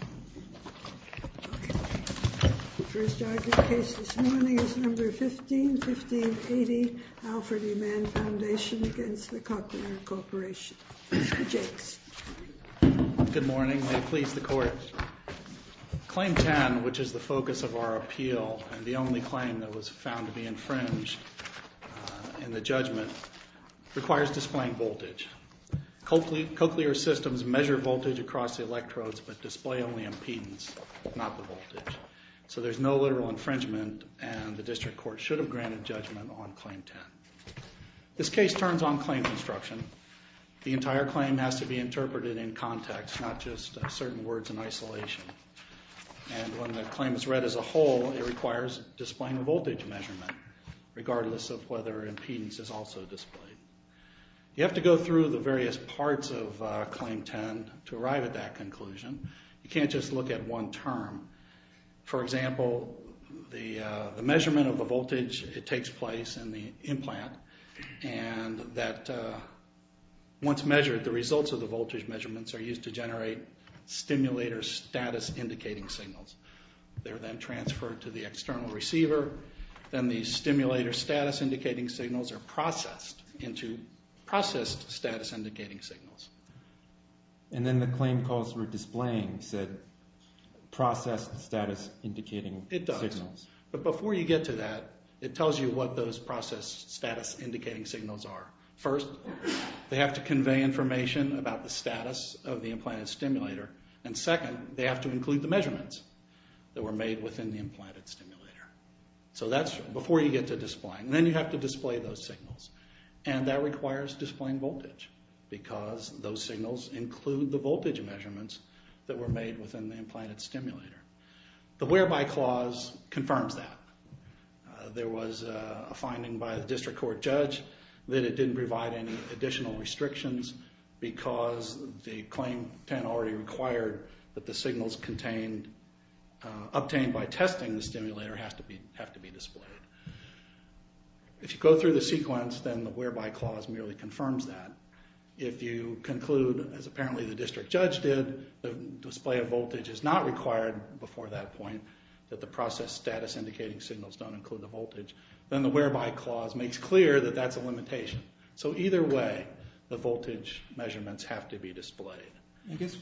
The first argument of the case this morning is No. 151580, Alfred E. Mann Foundation v. Cochlear Corporation. James. Good morning. May it please the Court. Claim 10, which is the focus of our appeal and the only claim that was found to be infringed in the judgment, requires displaying voltage. Cochlear systems measure voltage across the electrodes but display only impedance, not the voltage. So there's no literal infringement, and the District Court should have granted judgment on Claim 10. This case turns on claim construction. The entire claim has to be interpreted in context, not just certain words in isolation. And when the claim is read as a whole, it requires displaying a voltage measurement, regardless of whether impedance is also displayed. You have to go through the various parts of Claim 10 to arrive at that conclusion. You can't just look at one term. For example, the measurement of the voltage, it takes place in the implant. And once measured, the results of the voltage measurements are used to generate stimulator status indicating signals. They're then transferred to the external receiver. Then the stimulator status indicating signals are processed into processed status indicating signals. And then the claim calls for displaying said processed status indicating signals. It does. But before you get to that, it tells you what those processed status indicating signals are. First, they have to convey information about the status of the implanted stimulator. And second, they have to include the measurements that were made within the implanted stimulator. So that's before you get to displaying. Then you have to display those signals. And that requires displaying voltage because those signals include the voltage measurements that were made within the implanted stimulator. The Whereby Clause confirms that. There was a finding by the district court judge that it didn't provide any additional restrictions because the Claim 10 already required that the signals obtained by testing the stimulator have to be displayed. If you go through the sequence, then the Whereby Clause merely confirms that. If you conclude, as apparently the district judge did, that the display of voltage is not required before that point, that the processed status indicating signals don't include the voltage, then the Whereby Clause makes clear that that's a limitation. So either way, the voltage measurements have to be displayed. I guess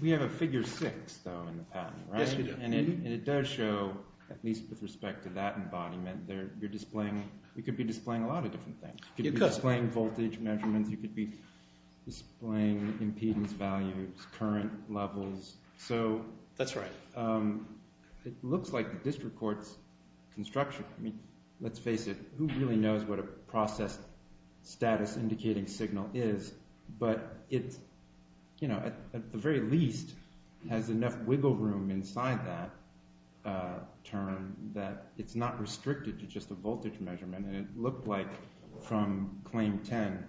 we have a Figure 6, though, in the patent, right? Yes, we do. And it does show, at least with respect to that embodiment, you're displaying – you could be displaying a lot of different things. You could be displaying voltage measurements. You could be displaying impedance values, current levels. That's right. It looks like the district court's construction – I mean, let's face it, who really knows what a processed status indicating signal is? But it, at the very least, has enough wiggle room inside that term that it's not restricted to just a voltage measurement. And it looked like, from Claim 10,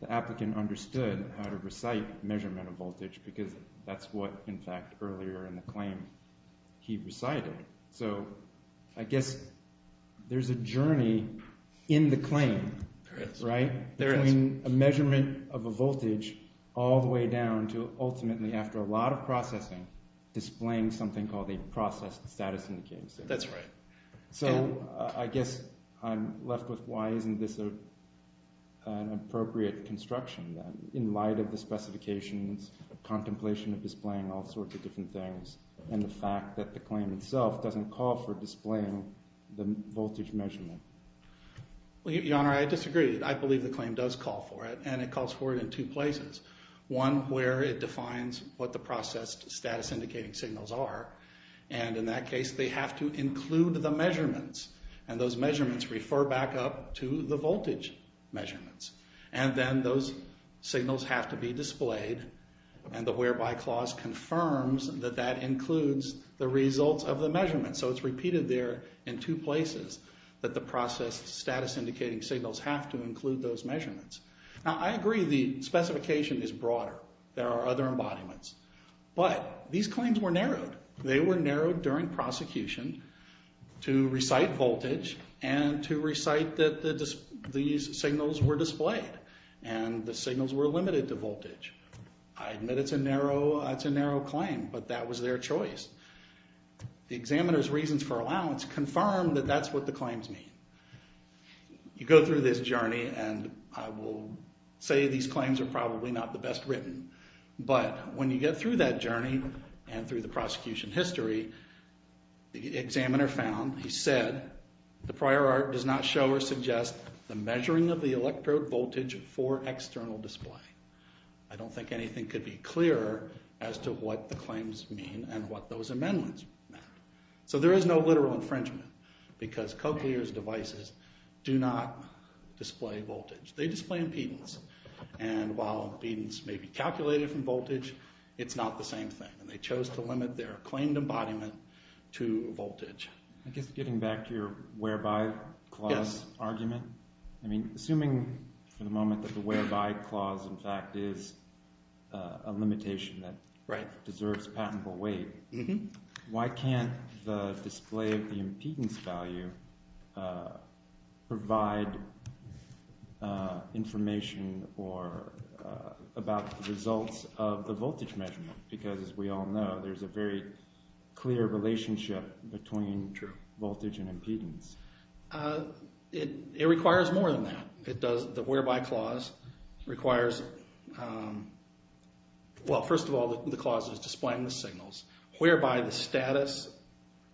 the applicant understood how to recite measurement of voltage because that's what, in fact, earlier in the claim he recited. So I guess there's a journey in the claim, right? There is. Between a measurement of a voltage all the way down to ultimately, after a lot of processing, displaying something called a processed status indicating signal. That's right. So I guess I'm left with why isn't this an appropriate construction then, in light of the specifications, contemplation of displaying all sorts of different things, and the fact that the claim itself doesn't call for displaying the voltage measurement? Your Honor, I disagree. I believe the claim does call for it, and it calls for it in two places. One, where it defines what the processed status indicating signals are. And in that case, they have to include the measurements, and those measurements refer back up to the voltage measurements. And then those signals have to be displayed, and the whereby clause confirms that that includes the results of the measurements. So it's repeated there in two places that the processed status indicating signals have to include those measurements. Now, I agree the specification is broader. There are other embodiments. But these claims were narrowed. They were narrowed during prosecution to recite voltage and to recite that these signals were displayed, and the signals were limited to voltage. I admit it's a narrow claim, but that was their choice. The examiner's reasons for allowance confirm that that's what the claims mean. You go through this journey, and I will say these claims are probably not the best written. But when you get through that journey and through the prosecution history, the examiner found, he said, the prior art does not show or suggest the measuring of the electrode voltage for external display. I don't think anything could be clearer as to what the claims mean and what those amendments meant. So there is no literal infringement because Cochlear's devices do not display voltage. They display impedance. And while impedance may be calculated from voltage, it's not the same thing. And they chose to limit their claimed embodiment to voltage. I guess getting back to your whereby clause argument, I mean, assuming for the moment that the whereby clause, in fact, is a limitation that deserves patentable weight, why can't the display of the impedance value provide information about the results of the voltage measurement? Because as we all know, there's a very clear relationship between voltage and impedance. It requires more than that. The whereby clause requires, well, first of all, the clause is displaying the signals whereby the status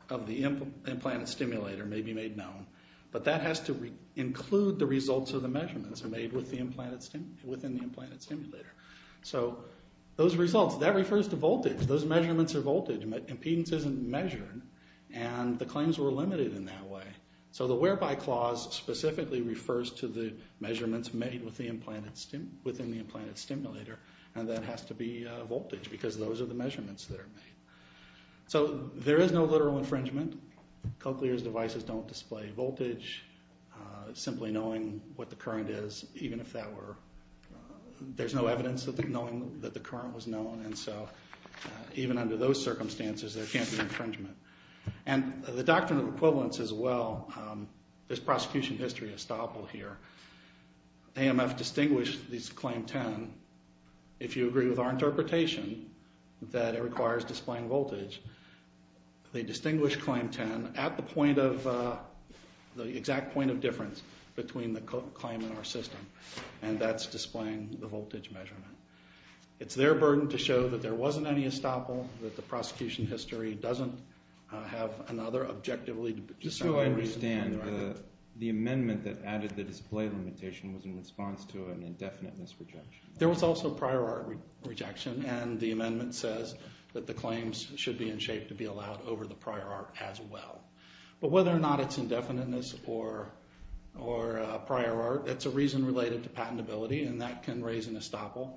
of the implanted stimulator may be made known. But that has to include the results of the measurements made within the implanted stimulator. So those results, that refers to voltage. Those measurements are voltage. Impedance isn't measured. And the claims were limited in that way. So the whereby clause specifically refers to the measurements made within the implanted stimulator. And that has to be voltage because those are the measurements that are made. So there is no literal infringement. Cochlear's devices don't display voltage. Simply knowing what the current is, even if that were, there's no evidence of knowing that the current was known. And so even under those circumstances, there can't be infringement. And the doctrine of equivalence is, well, there's prosecution history estoppel here. AMF distinguished this Claim 10. If you agree with our interpretation that it requires displaying voltage, they distinguish Claim 10 at the point of the exact point of difference between the claim and our system. And that's displaying the voltage measurement. It's their burden to show that there wasn't any estoppel, that the prosecution history doesn't have another objectively distracting reason. Just so I understand, the amendment that added the display limitation was in response to an indefiniteness rejection. There was also prior art rejection. And the amendment says that the claims should be in shape to be allowed over the prior art as well. But whether or not it's indefiniteness or prior art, it's a reason related to patentability, and that can raise an estoppel.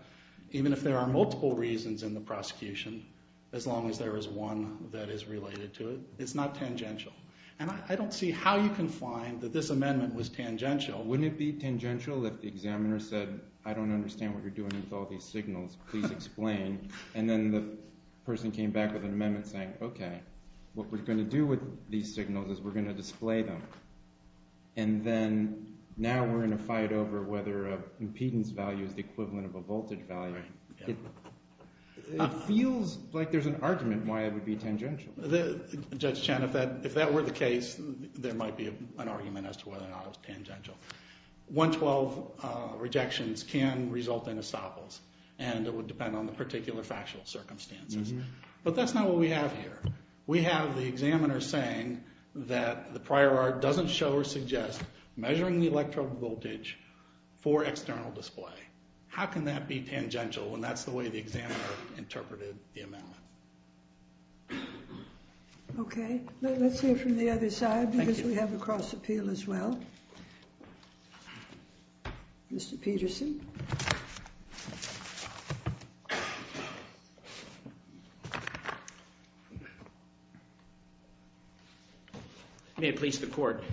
Even if there are multiple reasons in the prosecution, as long as there is one that is related to it, it's not tangential. And I don't see how you can find that this amendment was tangential. Wouldn't it be tangential if the examiner said, I don't understand what you're doing with all these signals, please explain. And then the person came back with an amendment saying, okay, what we're going to do with these signals is we're going to display them. And then now we're going to fight over whether an impedance value is the equivalent of a voltage value. It feels like there's an argument why it would be tangential. Judge Chen, if that were the case, there might be an argument as to whether or not it was tangential. 112 rejections can result in estoppels, and it would depend on the particular factual circumstances. But that's not what we have here. We have the examiner saying that the prior art doesn't show or suggest measuring the electrode voltage for external display. How can that be tangential when that's the way the examiner interpreted the amendment? Okay. Let's hear from the other side because we have a cross appeal as well. Mr. Peterson. May it please the court.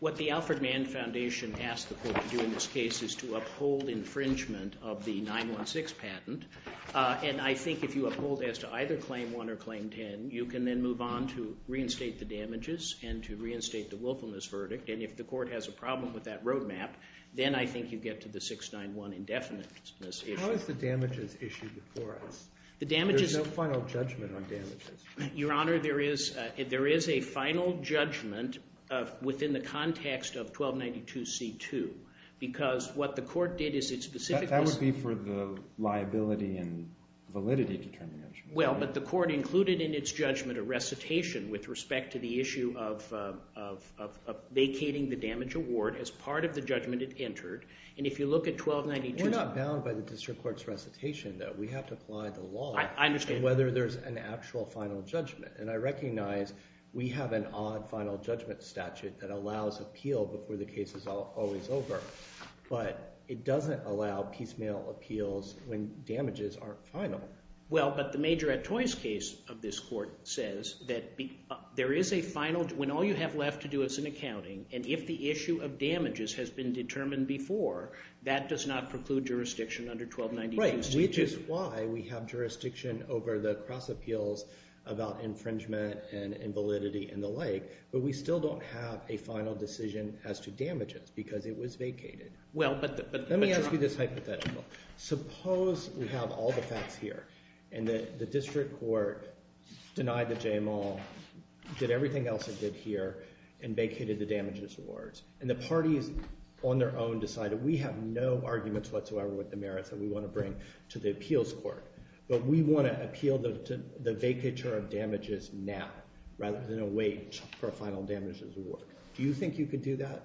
What the Alfred Mann Foundation asked the court to do in this case is to uphold infringement of the 9-1-6 patent. And I think if you uphold as to either Claim 1 or Claim 10, you can then move on to reinstate the damages and to reinstate the willfulness verdict. And if the court has a problem with that roadmap, then I think you get to the 6-9-1 indefiniteness issue. How is the damages issue before us? There's no final judgment on damages. Your Honor, there is a final judgment within the context of 1292C2 because what the court did is it specifically – Well, but the court included in its judgment a recitation with respect to the issue of vacating the damage award as part of the judgment it entered. And if you look at 1292 – We're not bound by the district court's recitation, though. We have to apply the law on whether there's an actual final judgment. And I recognize we have an odd final judgment statute that allows appeal before the case is always over. But it doesn't allow piecemeal appeals when damages aren't final. Well, but the major at toys case of this court says that there is a final – when all you have left to do is an accounting, and if the issue of damages has been determined before, that does not preclude jurisdiction under 1292C2. Right, which is why we have jurisdiction over the cross appeals about infringement and invalidity and the like. But we still don't have a final decision as to damages because it was vacated. Well, but – Let me ask you this hypothetical. Suppose we have all the facts here and the district court denied the JML, did everything else it did here, and vacated the damages awards. And the parties on their own decided we have no arguments whatsoever with the merits that we want to bring to the appeals court. But we want to appeal the vacature of damages now rather than wait for a final damages award. Do you think you could do that?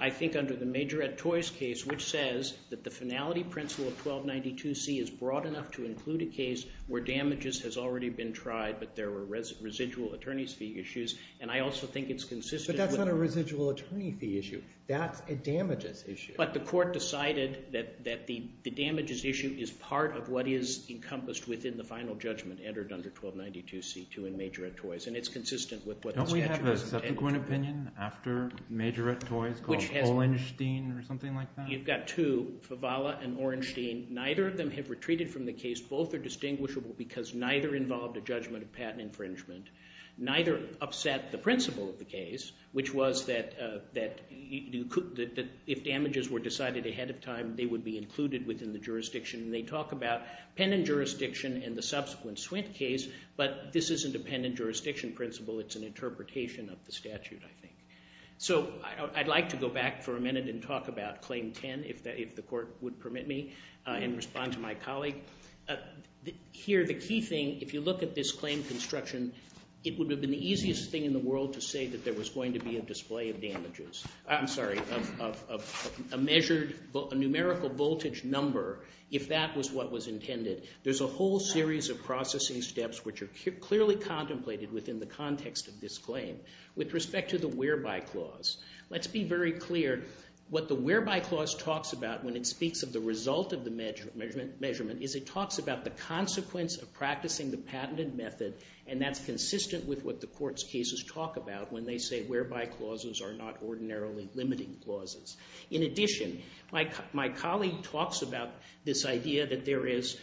I think under the major at toys case, which says that the finality principle of 1292C is broad enough to include a case where damages has already been tried but there were residual attorney's fee issues. And I also think it's consistent – But that's not a residual attorney fee issue. That's a damages issue. But the court decided that the damages issue is part of what is encompassed within the final judgment entered under 1292C2 in major at toys. And it's consistent with what the statute has intended. Don't we have a subsequent opinion after major at toys called Orenstein or something like that? You've got two, Favala and Orenstein. Neither of them have retreated from the case. Both are distinguishable because neither involved a judgment of patent infringement. Neither upset the principle of the case, which was that if damages were decided ahead of time, they would be included within the jurisdiction. And they talk about pen and jurisdiction in the subsequent Swint case. But this isn't a pen and jurisdiction principle. It's an interpretation of the statute, I think. So I'd like to go back for a minute and talk about claim 10, if the court would permit me, and respond to my colleague. Here, the key thing, if you look at this claim construction, it would have been the easiest thing in the world to say that there was going to be a display of damages. I'm sorry, of a measured numerical voltage number if that was what was intended. There's a whole series of processing steps which are clearly contemplated within the context of this claim. With respect to the whereby clause, let's be very clear. What the whereby clause talks about when it speaks of the result of the measurement is it talks about the consequence of practicing the patented method. And that's consistent with what the court's cases talk about when they say whereby clauses are not ordinarily limiting clauses. In addition, my colleague talks about this idea that there is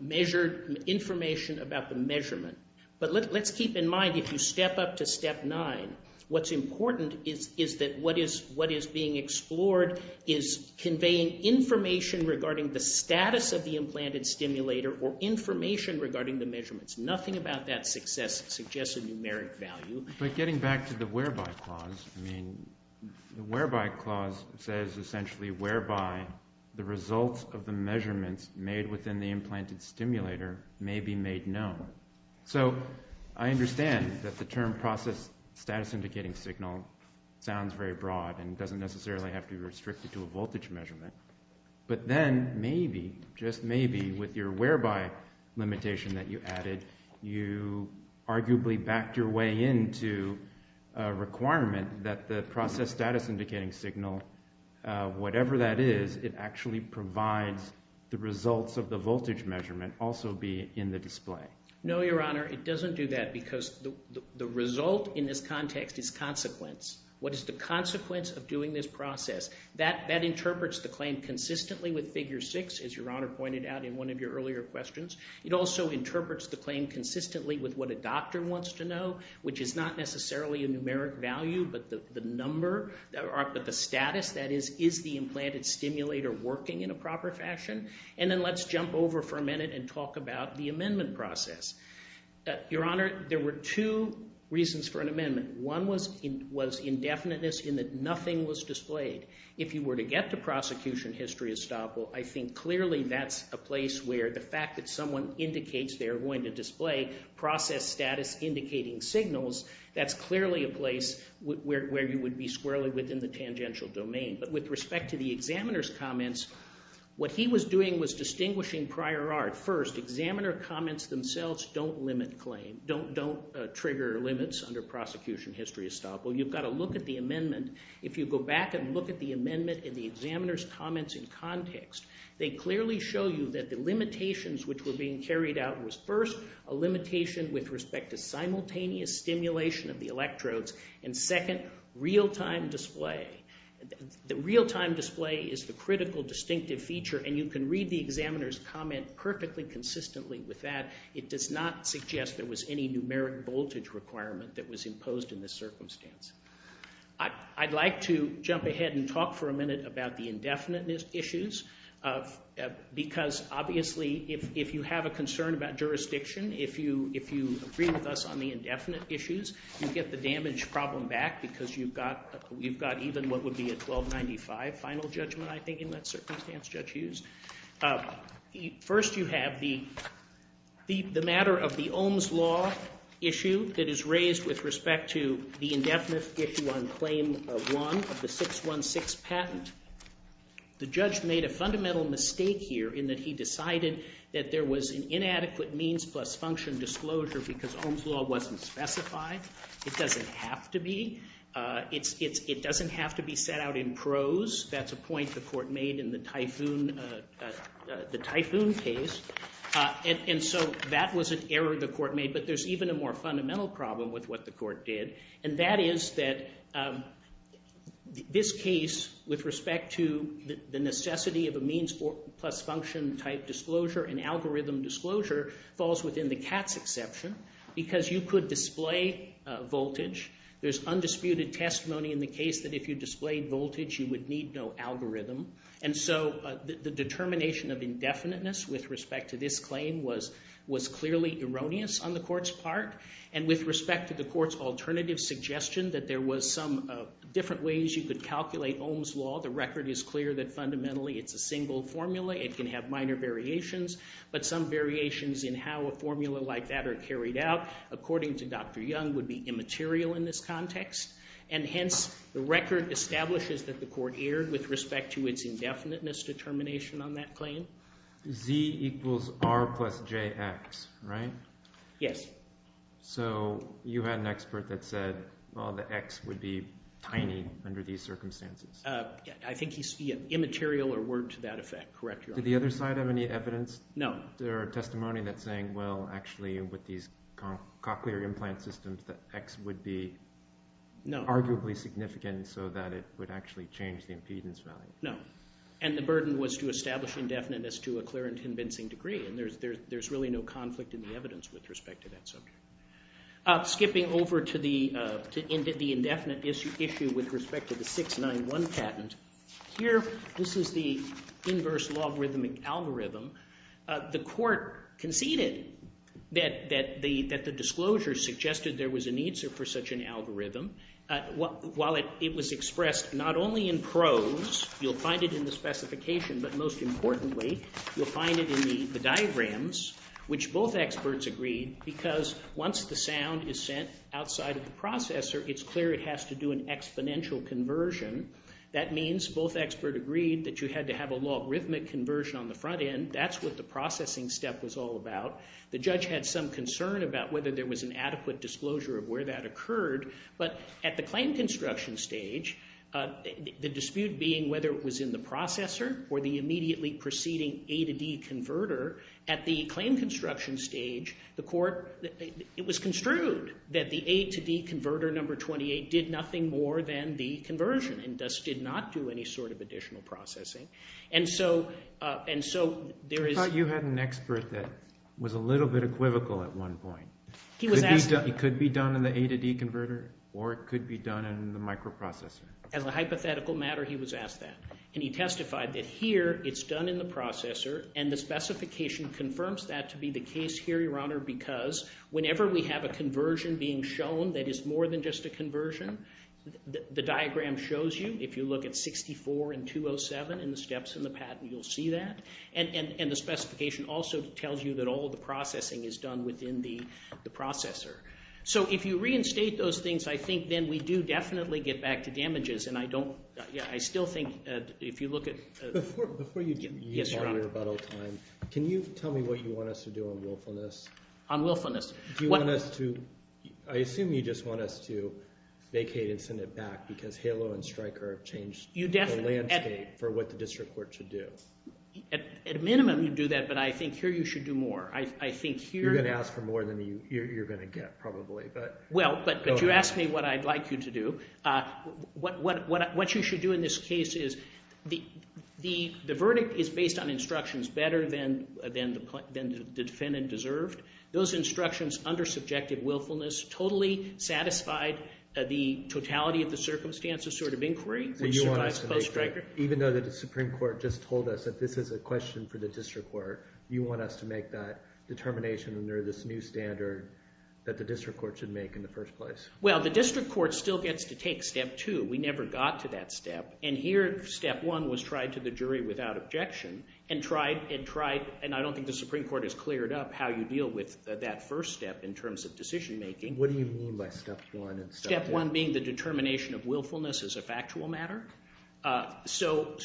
measured information about the measurement. But let's keep in mind, if you step up to step 9, what's important is that what is being explored is conveying information regarding the status of the implanted stimulator or information regarding the measurements. Nothing about that suggests a numeric value. But getting back to the whereby clause, I mean, the whereby clause says essentially whereby the results of the measurements made within the implanted stimulator may be made known. So I understand that the term process status indicating signal sounds very broad and doesn't necessarily have to be restricted to a voltage measurement. But then maybe, just maybe, with your whereby limitation that you added, you arguably backed your way into a requirement that the process status indicating signal, whatever that is, it actually provides the results of the voltage measurement also be in the display. No, Your Honor. It doesn't do that because the result in this context is consequence. What is the consequence of doing this process? That interprets the claim consistently with figure 6, as Your Honor pointed out in one of your earlier questions. It also interprets the claim consistently with what a doctor wants to know, which is not necessarily a numeric value, but the number, but the status, that is, is the implanted stimulator working in a proper fashion? And then let's jump over for a minute and talk about the amendment process. Your Honor, there were two reasons for an amendment. One was indefiniteness in that nothing was displayed. If you were to get to prosecution history estoppel, I think clearly that's a place where the fact that someone indicates they're going to display process status indicating signals, that's clearly a place where you would be squarely within the tangential domain. But with respect to the examiner's comments, what he was doing was distinguishing prior art. First, examiner comments themselves don't limit claim, don't trigger limits under prosecution history estoppel. You've got to look at the amendment. If you go back and look at the amendment and the examiner's comments in context, they clearly show you that the limitations which were being carried out was, first, a limitation with respect to simultaneous stimulation of the electrodes, and second, real-time display. The real-time display is the critical distinctive feature, and you can read the examiner's comment perfectly consistently with that. It does not suggest there was any numeric voltage requirement that was imposed in this circumstance. I'd like to jump ahead and talk for a minute about the indefiniteness issues because, obviously, if you have a concern about jurisdiction, if you agree with us on the indefinite issues, you get the damage problem back because you've got even what would be a 1295 final judgment, I think, in that circumstance Judge Hughes. First, you have the matter of the Ohm's Law issue that is raised with respect to the indefinite issue on Claim 1 of the 616 patent. The judge made a fundamental mistake here in that he decided that there was an inadequate means plus function disclosure because Ohm's Law wasn't specified. It doesn't have to be. It doesn't have to be set out in prose. That's a point the court made in the Typhoon case, and so that was an error the court made, but there's even a more fundamental problem with what the court did, and that is that this case, with respect to the necessity of a means plus function type disclosure and algorithm disclosure, falls within the Katz exception because you could display voltage. There's undisputed testimony in the case that if you displayed voltage, you would need no algorithm, and so the determination of indefiniteness with respect to this claim was clearly erroneous on the court's part, and with respect to the court's alternative suggestion that there was some different ways you could calculate Ohm's Law, the record is clear that fundamentally it's a single formula. It can have minor variations, but some variations in how a formula like that are carried out, according to Dr. Young, would be immaterial in this context, and hence the record establishes that the court erred with respect to its indefiniteness determination on that claim. Z equals R plus JX, right? Yes. So you had an expert that said, well, the X would be tiny under these circumstances. I think he said immaterial or word to that effect, correct? Did the other side have any evidence? No. There are testimony that's saying, well, actually with these cochlear implant systems, the X would be arguably significant so that it would actually change the impedance value. No, and the burden was to establish indefiniteness to a clear and convincing degree, and there's really no conflict in the evidence with respect to that subject. Skipping over to the indefinite issue with respect to the 691 patent, here this is the inverse logarithmic algorithm. The court conceded that the disclosure suggested there was a need for such an algorithm. While it was expressed not only in prose, you'll find it in the specification, but most importantly, you'll find it in the diagrams, which both experts agreed, because once the sound is sent outside of the processor, it's clear it has to do an exponential conversion. That means both experts agreed that you had to have a logarithmic conversion on the front end. That's what the processing step was all about. The judge had some concern about whether there was an adequate disclosure of where that occurred, but at the claim construction stage, the dispute being whether it was in the processor or the immediately preceding A to D converter, at the claim construction stage, the court, it was construed that the A to D converter number 28 did nothing more than the conversion and thus did not do any sort of additional processing. I thought you had an expert that was a little bit equivocal at one point. It could be done in the A to D converter, or it could be done in the microprocessor. As a hypothetical matter, he was asked that, and he testified that here it's done in the processor, and the specification confirms that to be the case here, Your Honor, because whenever we have a conversion being shown that is more than just a conversion, the diagram shows you. If you look at 64 and 207 in the steps in the patent, you'll see that, and the specification also tells you that all of the processing is done within the processor. So if you reinstate those things, I think then we do definitely get back to damages, and I don't – I still think if you look at – Before you use our rebuttal time, can you tell me what you want us to do on willfulness? On willfulness. Do you want us to – I assume you just want us to vacate and send it back because HALO and Stryker have changed the landscape for what the district court should do. At a minimum, you'd do that, but I think here you should do more. I think here – You're going to ask for more than you're going to get probably, but – Well, but you asked me what I'd like you to do. What you should do in this case is the verdict is based on instructions better than the defendant deserved. Those instructions under subjective willfulness totally satisfied the totality of the circumstances sort of inquiry, which survives post-Stryker. Even though the Supreme Court just told us that this is a question for the district court, you want us to make that determination under this new standard that the district court should make in the first place. Well, the district court still gets to take step two. We never got to that step, and here step one was tried to the jury without objection and tried and tried, and I don't think the Supreme Court has cleared up how you deal with that first step in terms of decision making. What do you mean by step one and step two? Step one being the determination of willfulness as a factual matter. So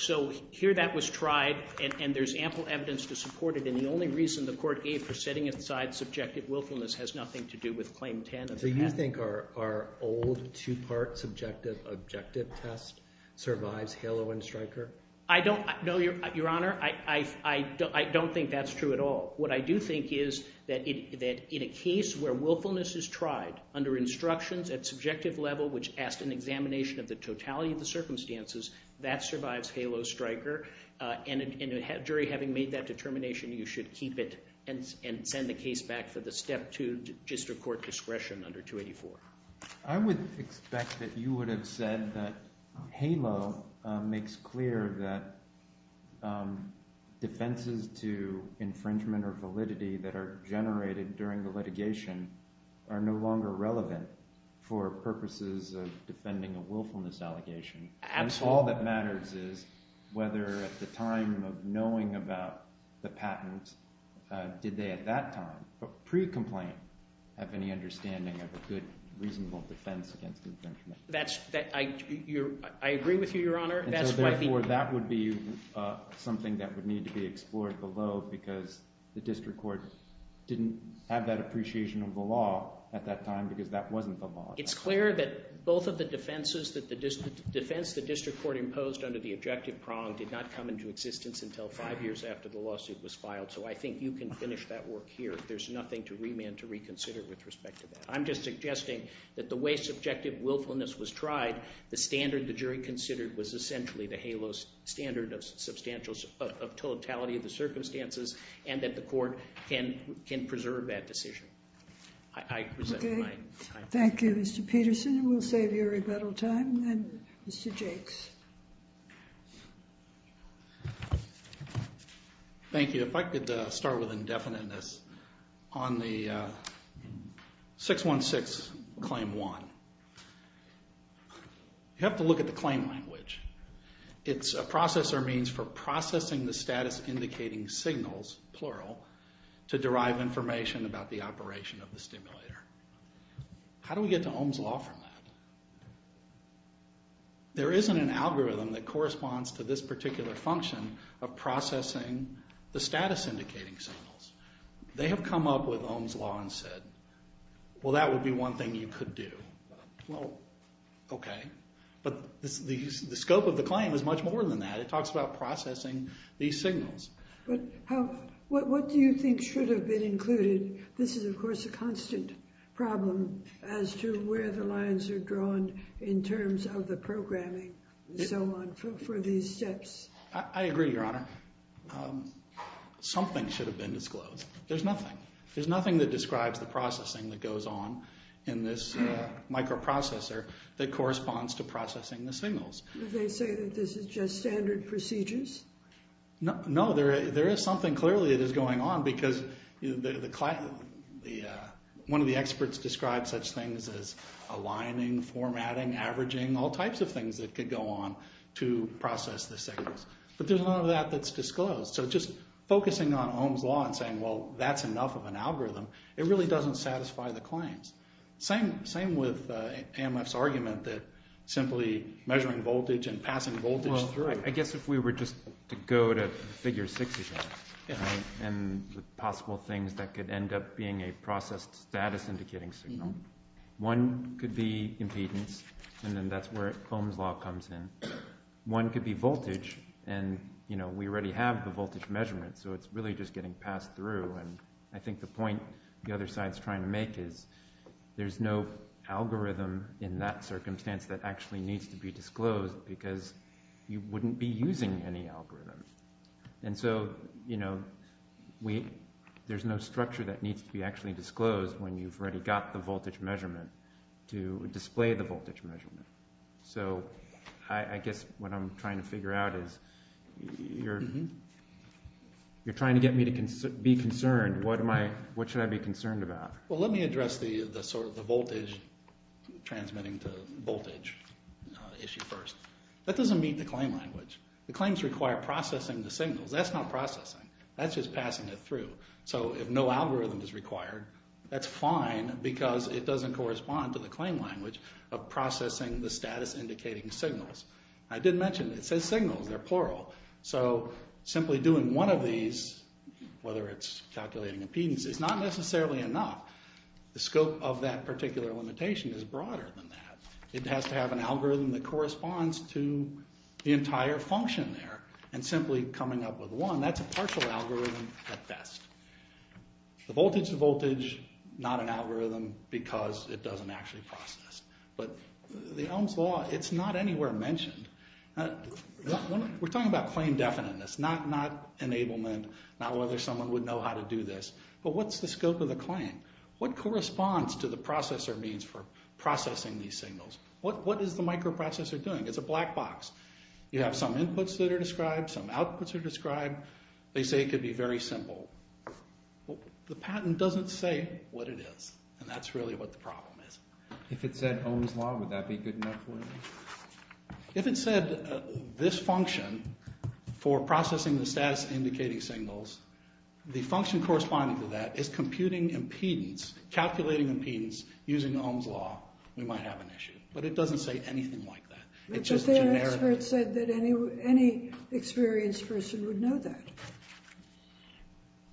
here that was tried, and there's ample evidence to support it, and the only reason the court gave for setting aside subjective willfulness has nothing to do with Claim 10. So you think our old two-part subjective objective test survives HALO and Stryker? I don't know, Your Honor. I don't think that's true at all. What I do think is that in a case where willfulness is tried under instructions at subjective level, which asked an examination of the totality of the circumstances, that survives HALO, Stryker, and a jury having made that determination, you should keep it and send the case back for the step two district court discretion under 284. I would expect that you would have said that HALO makes clear that defenses to infringement or validity that are generated during the litigation are no longer relevant for purposes of defending a willfulness allegation. Absolutely. If all that matters is whether at the time of knowing about the patent, did they at that time, pre-complaint, have any understanding of a good, reasonable defense against infringement? I agree with you, Your Honor. Therefore, that would be something that would need to be explored below because the district court didn't have that appreciation of the law at that time because that wasn't the law. It's clear that both of the defenses that the district court imposed under the objective prong did not come into existence until five years after the lawsuit was filed, so I think you can finish that work here. There's nothing to remand, to reconsider with respect to that. I'm just suggesting that the way subjective willfulness was tried, the standard the jury considered was essentially the HALO standard of totality of the circumstances and that the court can preserve that decision. I present my time. Thank you, Mr. Peterson. We'll save your rebuttal time. Mr. Jakes. Thank you. If I could start with indefiniteness. On the 616 Claim 1, you have to look at the claim language. It's a process or means for processing the status indicating signals, plural, to derive information about the operation of the stimulator. How do we get to Ohm's Law from that? There isn't an algorithm that corresponds to this particular function of processing the status indicating signals. They have come up with Ohm's Law and said, well, that would be one thing you could do. Well, okay. But the scope of the claim is much more than that. It talks about processing these signals. But what do you think should have been included? This is, of course, a constant problem as to where the lines are drawn in terms of the programming and so on for these steps. I agree, Your Honor. Something should have been disclosed. There's nothing. There's nothing that describes the processing that goes on in this microprocessor that corresponds to processing the signals. Did they say that this is just standard procedures? No. There is something clearly that is going on because one of the experts describes such things as aligning, formatting, averaging, all types of things that could go on to process the signals. But there's none of that that's disclosed. So just focusing on Ohm's Law and saying, well, that's enough of an algorithm, it really doesn't satisfy the claims. Same with AMF's argument that simply measuring voltage and passing voltage through. I guess if we were just to go to Figure 6, and the possible things that could end up being a processed status indicating signal, one could be impedance, and then that's where Ohm's Law comes in. One could be voltage, and we already have the voltage measurement, so it's really just getting passed through. And I think the point the other side is trying to make is there's no algorithm in that circumstance that actually needs to be disclosed because you wouldn't be using any algorithm. And so there's no structure that needs to be actually disclosed when you've already got the voltage measurement to display the voltage measurement. So I guess what I'm trying to figure out is you're trying to get me to be concerned. What should I be concerned about? Well, let me address the voltage transmitting to voltage issue first. That doesn't meet the claim language. The claims require processing the signals. That's not processing. That's just passing it through. So if no algorithm is required, that's fine because it doesn't correspond to the claim language of processing the status indicating signals. I did mention it says signals. They're plural. So simply doing one of these, whether it's calculating impedance, is not necessarily enough. The scope of that particular limitation is broader than that. It has to have an algorithm that corresponds to the entire function there, and simply coming up with one, that's a partial algorithm at best. The voltage to voltage, not an algorithm because it doesn't actually process. But the Ohm's Law, it's not anywhere mentioned. We're talking about claim definiteness, not enablement, not whether someone would know how to do this. But what's the scope of the claim? What corresponds to the processor means for processing these signals? What is the microprocessor doing? It's a black box. You have some inputs that are described, some outputs are described. They say it could be very simple. The patent doesn't say what it is, and that's really what the problem is. If it said Ohm's Law, would that be good enough for you? If it said this function for processing the status-indicating signals, the function corresponding to that is computing impedance, calculating impedance using Ohm's Law, we might have an issue. But it doesn't say anything like that. It's just generic. But their experts said that any experienced person would know that.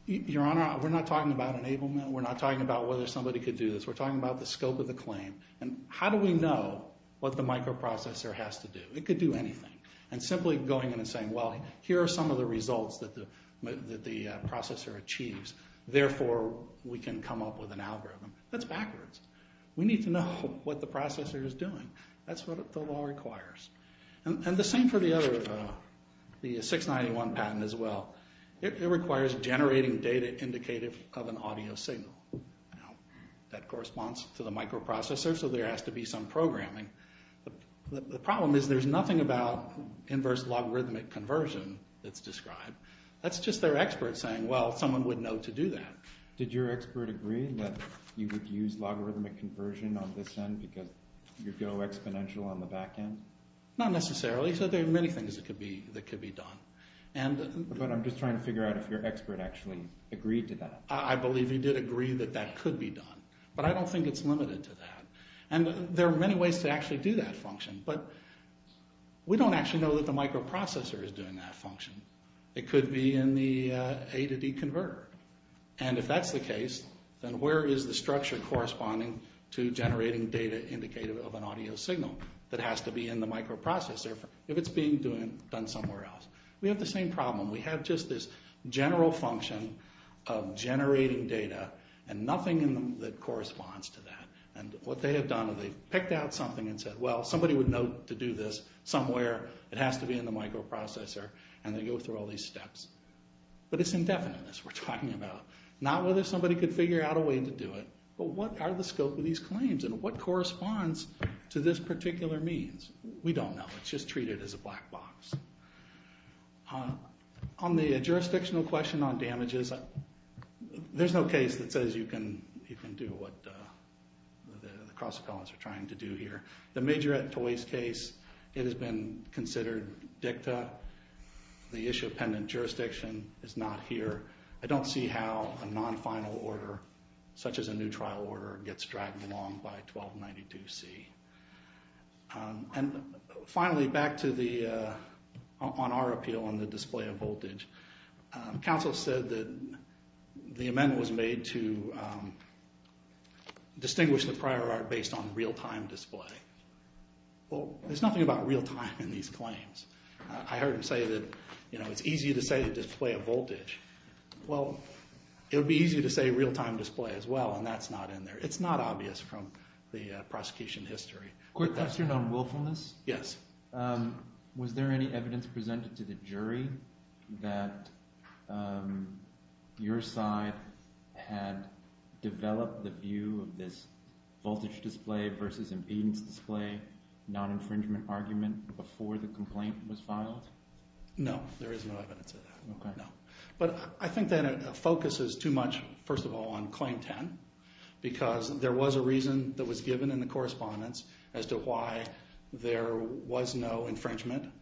Your Honor, we're not talking about enablement. We're not talking about whether somebody could do this. We're talking about the scope of the claim, and how do we know what the microprocessor has to do? It could do anything. And simply going in and saying, Well, here are some of the results that the processor achieves. Therefore, we can come up with an algorithm. That's backwards. We need to know what the processor is doing. That's what the law requires. And the same for the other, the 691 patent as well. It requires generating data indicative of an audio signal. That corresponds to the microprocessor, so there has to be some programming. The problem is there's nothing about inverse logarithmic conversion that's described. That's just their expert saying, Well, someone would know to do that. Did your expert agree that you would use logarithmic conversion on this end because you go exponential on the back end? Not necessarily. So there are many things that could be done. But I'm just trying to figure out if your expert actually agreed to that. I believe he did agree that that could be done. But I don't think it's limited to that. And there are many ways to actually do that function. But we don't actually know that the microprocessor is doing that function. It could be in the A to D converter. And if that's the case, then where is the structure corresponding to generating data indicative of an audio signal that has to be in the microprocessor if it's being done somewhere else? We have the same problem. We have just this general function of generating data and nothing in them that corresponds to that. And what they have done is they've picked out something and said, Well, somebody would know to do this somewhere. It has to be in the microprocessor. And they go through all these steps. But it's indefiniteness we're talking about, not whether somebody could figure out a way to do it, but what are the scope of these claims and what corresponds to this particular means? We don't know. It's just treated as a black box. On the jurisdictional question on damages, there's no case that says you can do what the cross-columns are trying to do here. The Majorette Toys case, it has been considered dicta. The issue of pendant jurisdiction is not here. I don't see how a non-final order, such as a new trial order, gets dragged along by 1292C. And finally, back on our appeal on the display of voltage, counsel said that the amendment was made to distinguish the prior art based on real-time display. Well, there's nothing about real-time in these claims. I heard him say that it's easy to say to display a voltage. Well, it would be easy to say real-time display as well, and that's not in there. It's not obvious from the prosecution history. Quick question on willfulness. Yes. Was there any evidence presented to the jury that your side had developed the view of this voltage display versus impedance display non-infringement argument before the complaint was filed? No, there is no evidence of that. But I think that it focuses too much, first of all, on Claim 10 because there was a reason that was given in the correspondence as to why there was no infringement.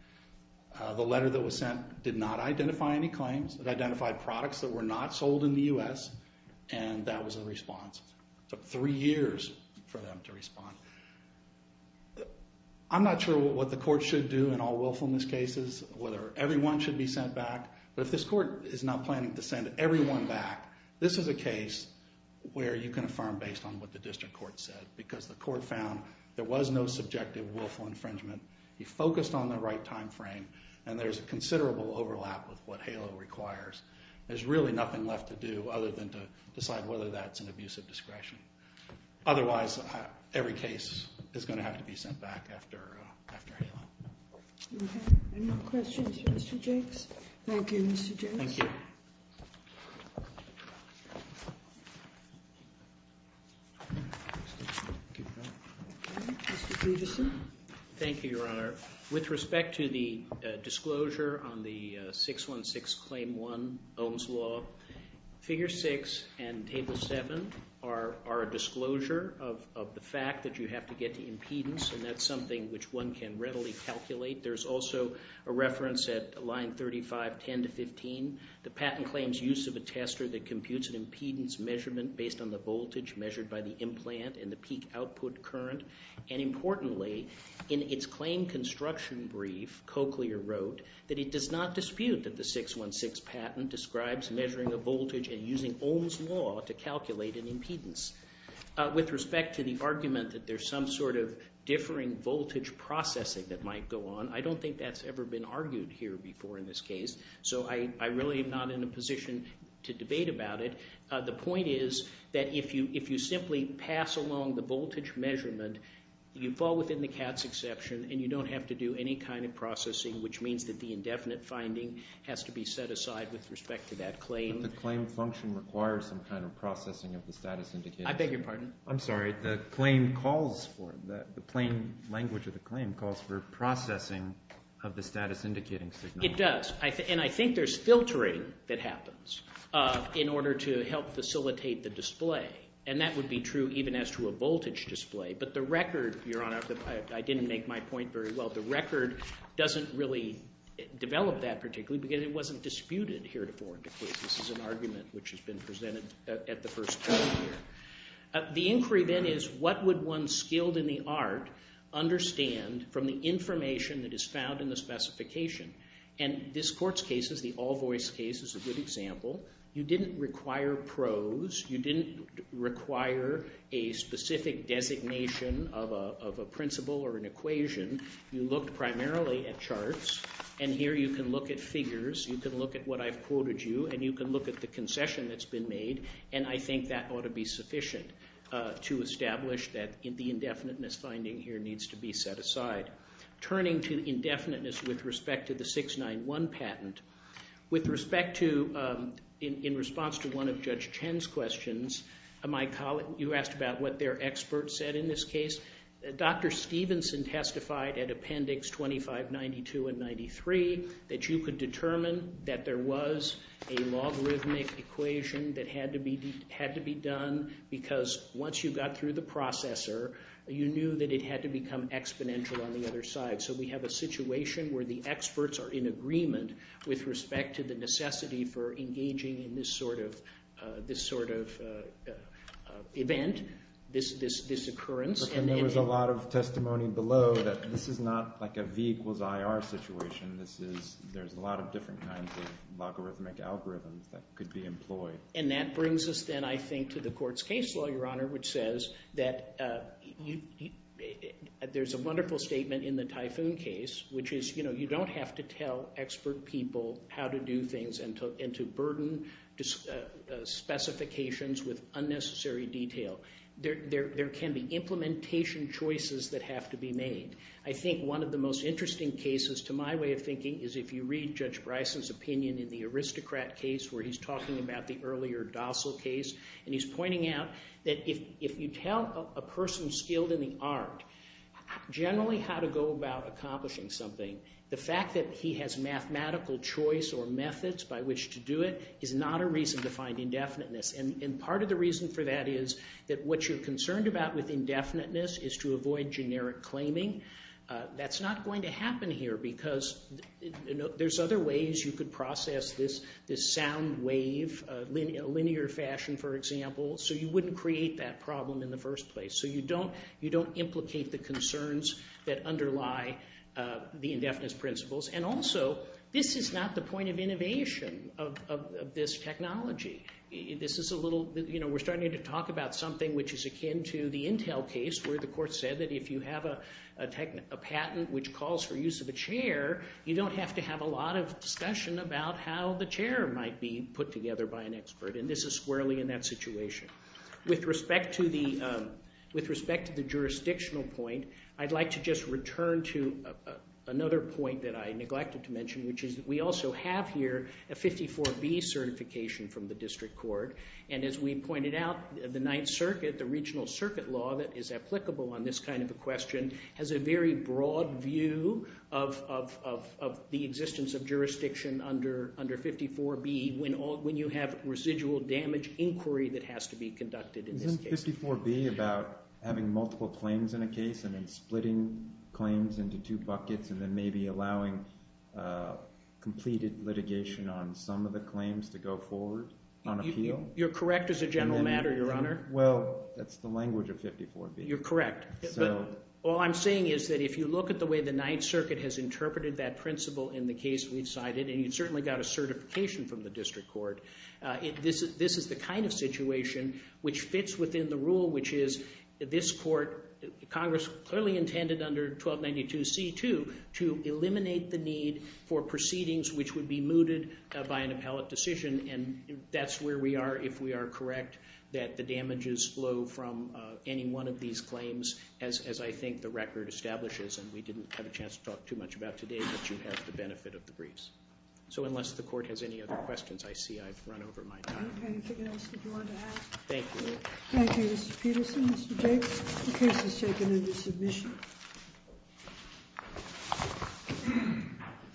The letter that was sent did not identify any claims. It identified products that were not sold in the U.S., and that was the response. It took three years for them to respond. I'm not sure what the court should do in all willfulness cases, whether everyone should be sent back. But if this court is not planning to send everyone back, this is a case where you can affirm based on what the district court said because the court found there was no subjective willful infringement. He focused on the right time frame, and there's considerable overlap with what HALO requires. There's really nothing left to do other than to decide whether that's an abuse of discretion. Otherwise, every case is going to have to be sent back after HALO. Okay. Any more questions for Mr. Jakes? Thank you, Mr. Jakes. Thank you. Mr. Peterson. Thank you, Your Honor. With respect to the disclosure on the 616 Claim 1, Ohm's Law, Figure 6 and Table 7 are a disclosure of the fact that you have to get to impedance, and that's something which one can readily calculate. There's also a reference at Line 35, 10 to 15. The patent claims use of a tester that computes an impedance measurement based on the voltage measured by the implant and the peak output current. And importantly, in its claim construction brief, Cochlear wrote that it does not dispute that the 616 patent describes measuring a voltage and using Ohm's Law to calculate an impedance. With respect to the argument that there's some sort of differing voltage processing that might go on, I don't think that's ever been argued here before in this case, so I really am not in a position to debate about it. The point is that if you simply pass along the voltage measurement, you fall within the CATS exception and you don't have to do any kind of processing, which means that the indefinite finding has to be set aside with respect to that claim. But the claim function requires some kind of processing of the status indicators. I beg your pardon? I'm sorry. The claim calls for it. The plain language of the claim calls for processing of the status indicating signal. It does, and I think there's filtering that happens in order to help facilitate the display, and that would be true even as to a voltage display. But the record, Your Honor, I didn't make my point very well. The record doesn't really develop that particularly because it wasn't disputed here before. This is an argument which has been presented at the first point here. The inquiry, then, is what would one skilled in the art understand from the information that is found in the specification? And this court's case is the all-voice case is a good example. You didn't require prose. You didn't require a specific designation of a principle or an equation. You looked primarily at charts, and here you can look at figures. You can look at what I've quoted you, and you can look at the concession that's been made, and I think that ought to be sufficient to establish that the indefiniteness finding here needs to be set aside. Turning to indefiniteness with respect to the 691 patent, with respect to in response to one of Judge Chen's questions, you asked about what their experts said in this case. Dr. Stevenson testified at Appendix 2592 and 93 that you could determine that there was a logarithmic equation that had to be done because once you got through the processor, you knew that it had to become exponential on the other side. So we have a situation where the experts are in agreement with respect to the necessity for engaging in this sort of event, this occurrence. And there was a lot of testimony below that this is not like a V equals IR situation. There's a lot of different kinds of logarithmic algorithms that could be employed. And that brings us then, I think, to the court's case law, Your Honor, which says that there's a wonderful statement in the Typhoon case, which is you don't have to tell expert people how to do things and to burden specifications with unnecessary detail. There can be implementation choices that have to be made. I think one of the most interesting cases, to my way of thinking, is if you read Judge Bryson's opinion in the Aristocrat case where he's talking about the earlier Dossal case, and he's pointing out that if you tell a person skilled in the art generally how to go about accomplishing something, the fact that he has mathematical choice or methods by which to do it is not a reason to find indefiniteness. And part of the reason for that is that what you're concerned about with indefiniteness is to avoid generic claiming. That's not going to happen here because there's other ways you could process this sound wave, linear fashion, for example, so you wouldn't create that problem in the first place. So you don't implicate the concerns that underlie the indefiniteness principles. And also, this is not the point of innovation of this technology. This is a little, you know, we're starting to talk about something which is akin to the Intel case where the court said that if you have a patent which calls for use of a chair, you don't have to have a lot of discussion about how the chair might be put together by an expert, and this is squarely in that situation. With respect to the jurisdictional point, I'd like to just return to another point that I neglected to mention, which is that we also have here a 54B certification from the district court, and as we pointed out, the Ninth Circuit, the regional circuit law that is applicable on this kind of a question has a very broad view of the existence of jurisdiction under 54B when you have residual damage inquiry that has to be conducted in this case. Isn't 54B about having multiple claims in a case and then splitting claims into two buckets and then maybe allowing completed litigation on some of the claims to go forward on appeal? You're correct as a general matter, Your Honor. Well, that's the language of 54B. You're correct. All I'm saying is that if you look at the way the Ninth Circuit has interpreted that principle in the case we've cited, and you've certainly got a certification from the district court, this is the kind of situation which fits within the rule, which is this court, Congress clearly intended under 1292C2 to eliminate the need for proceedings which would be mooted by an appellate decision, and that's where we are if we are correct that the damages flow from any one of these claims as I think the record establishes, and we didn't have a chance to talk too much about today, but you have the benefit of the briefs. So unless the court has any other questions, I see I've run over my time. Anything else that you wanted to add? Thank you. Thank you, Mr. Peterson. Mr. Jacobs, the case is taken into submission. Thank you.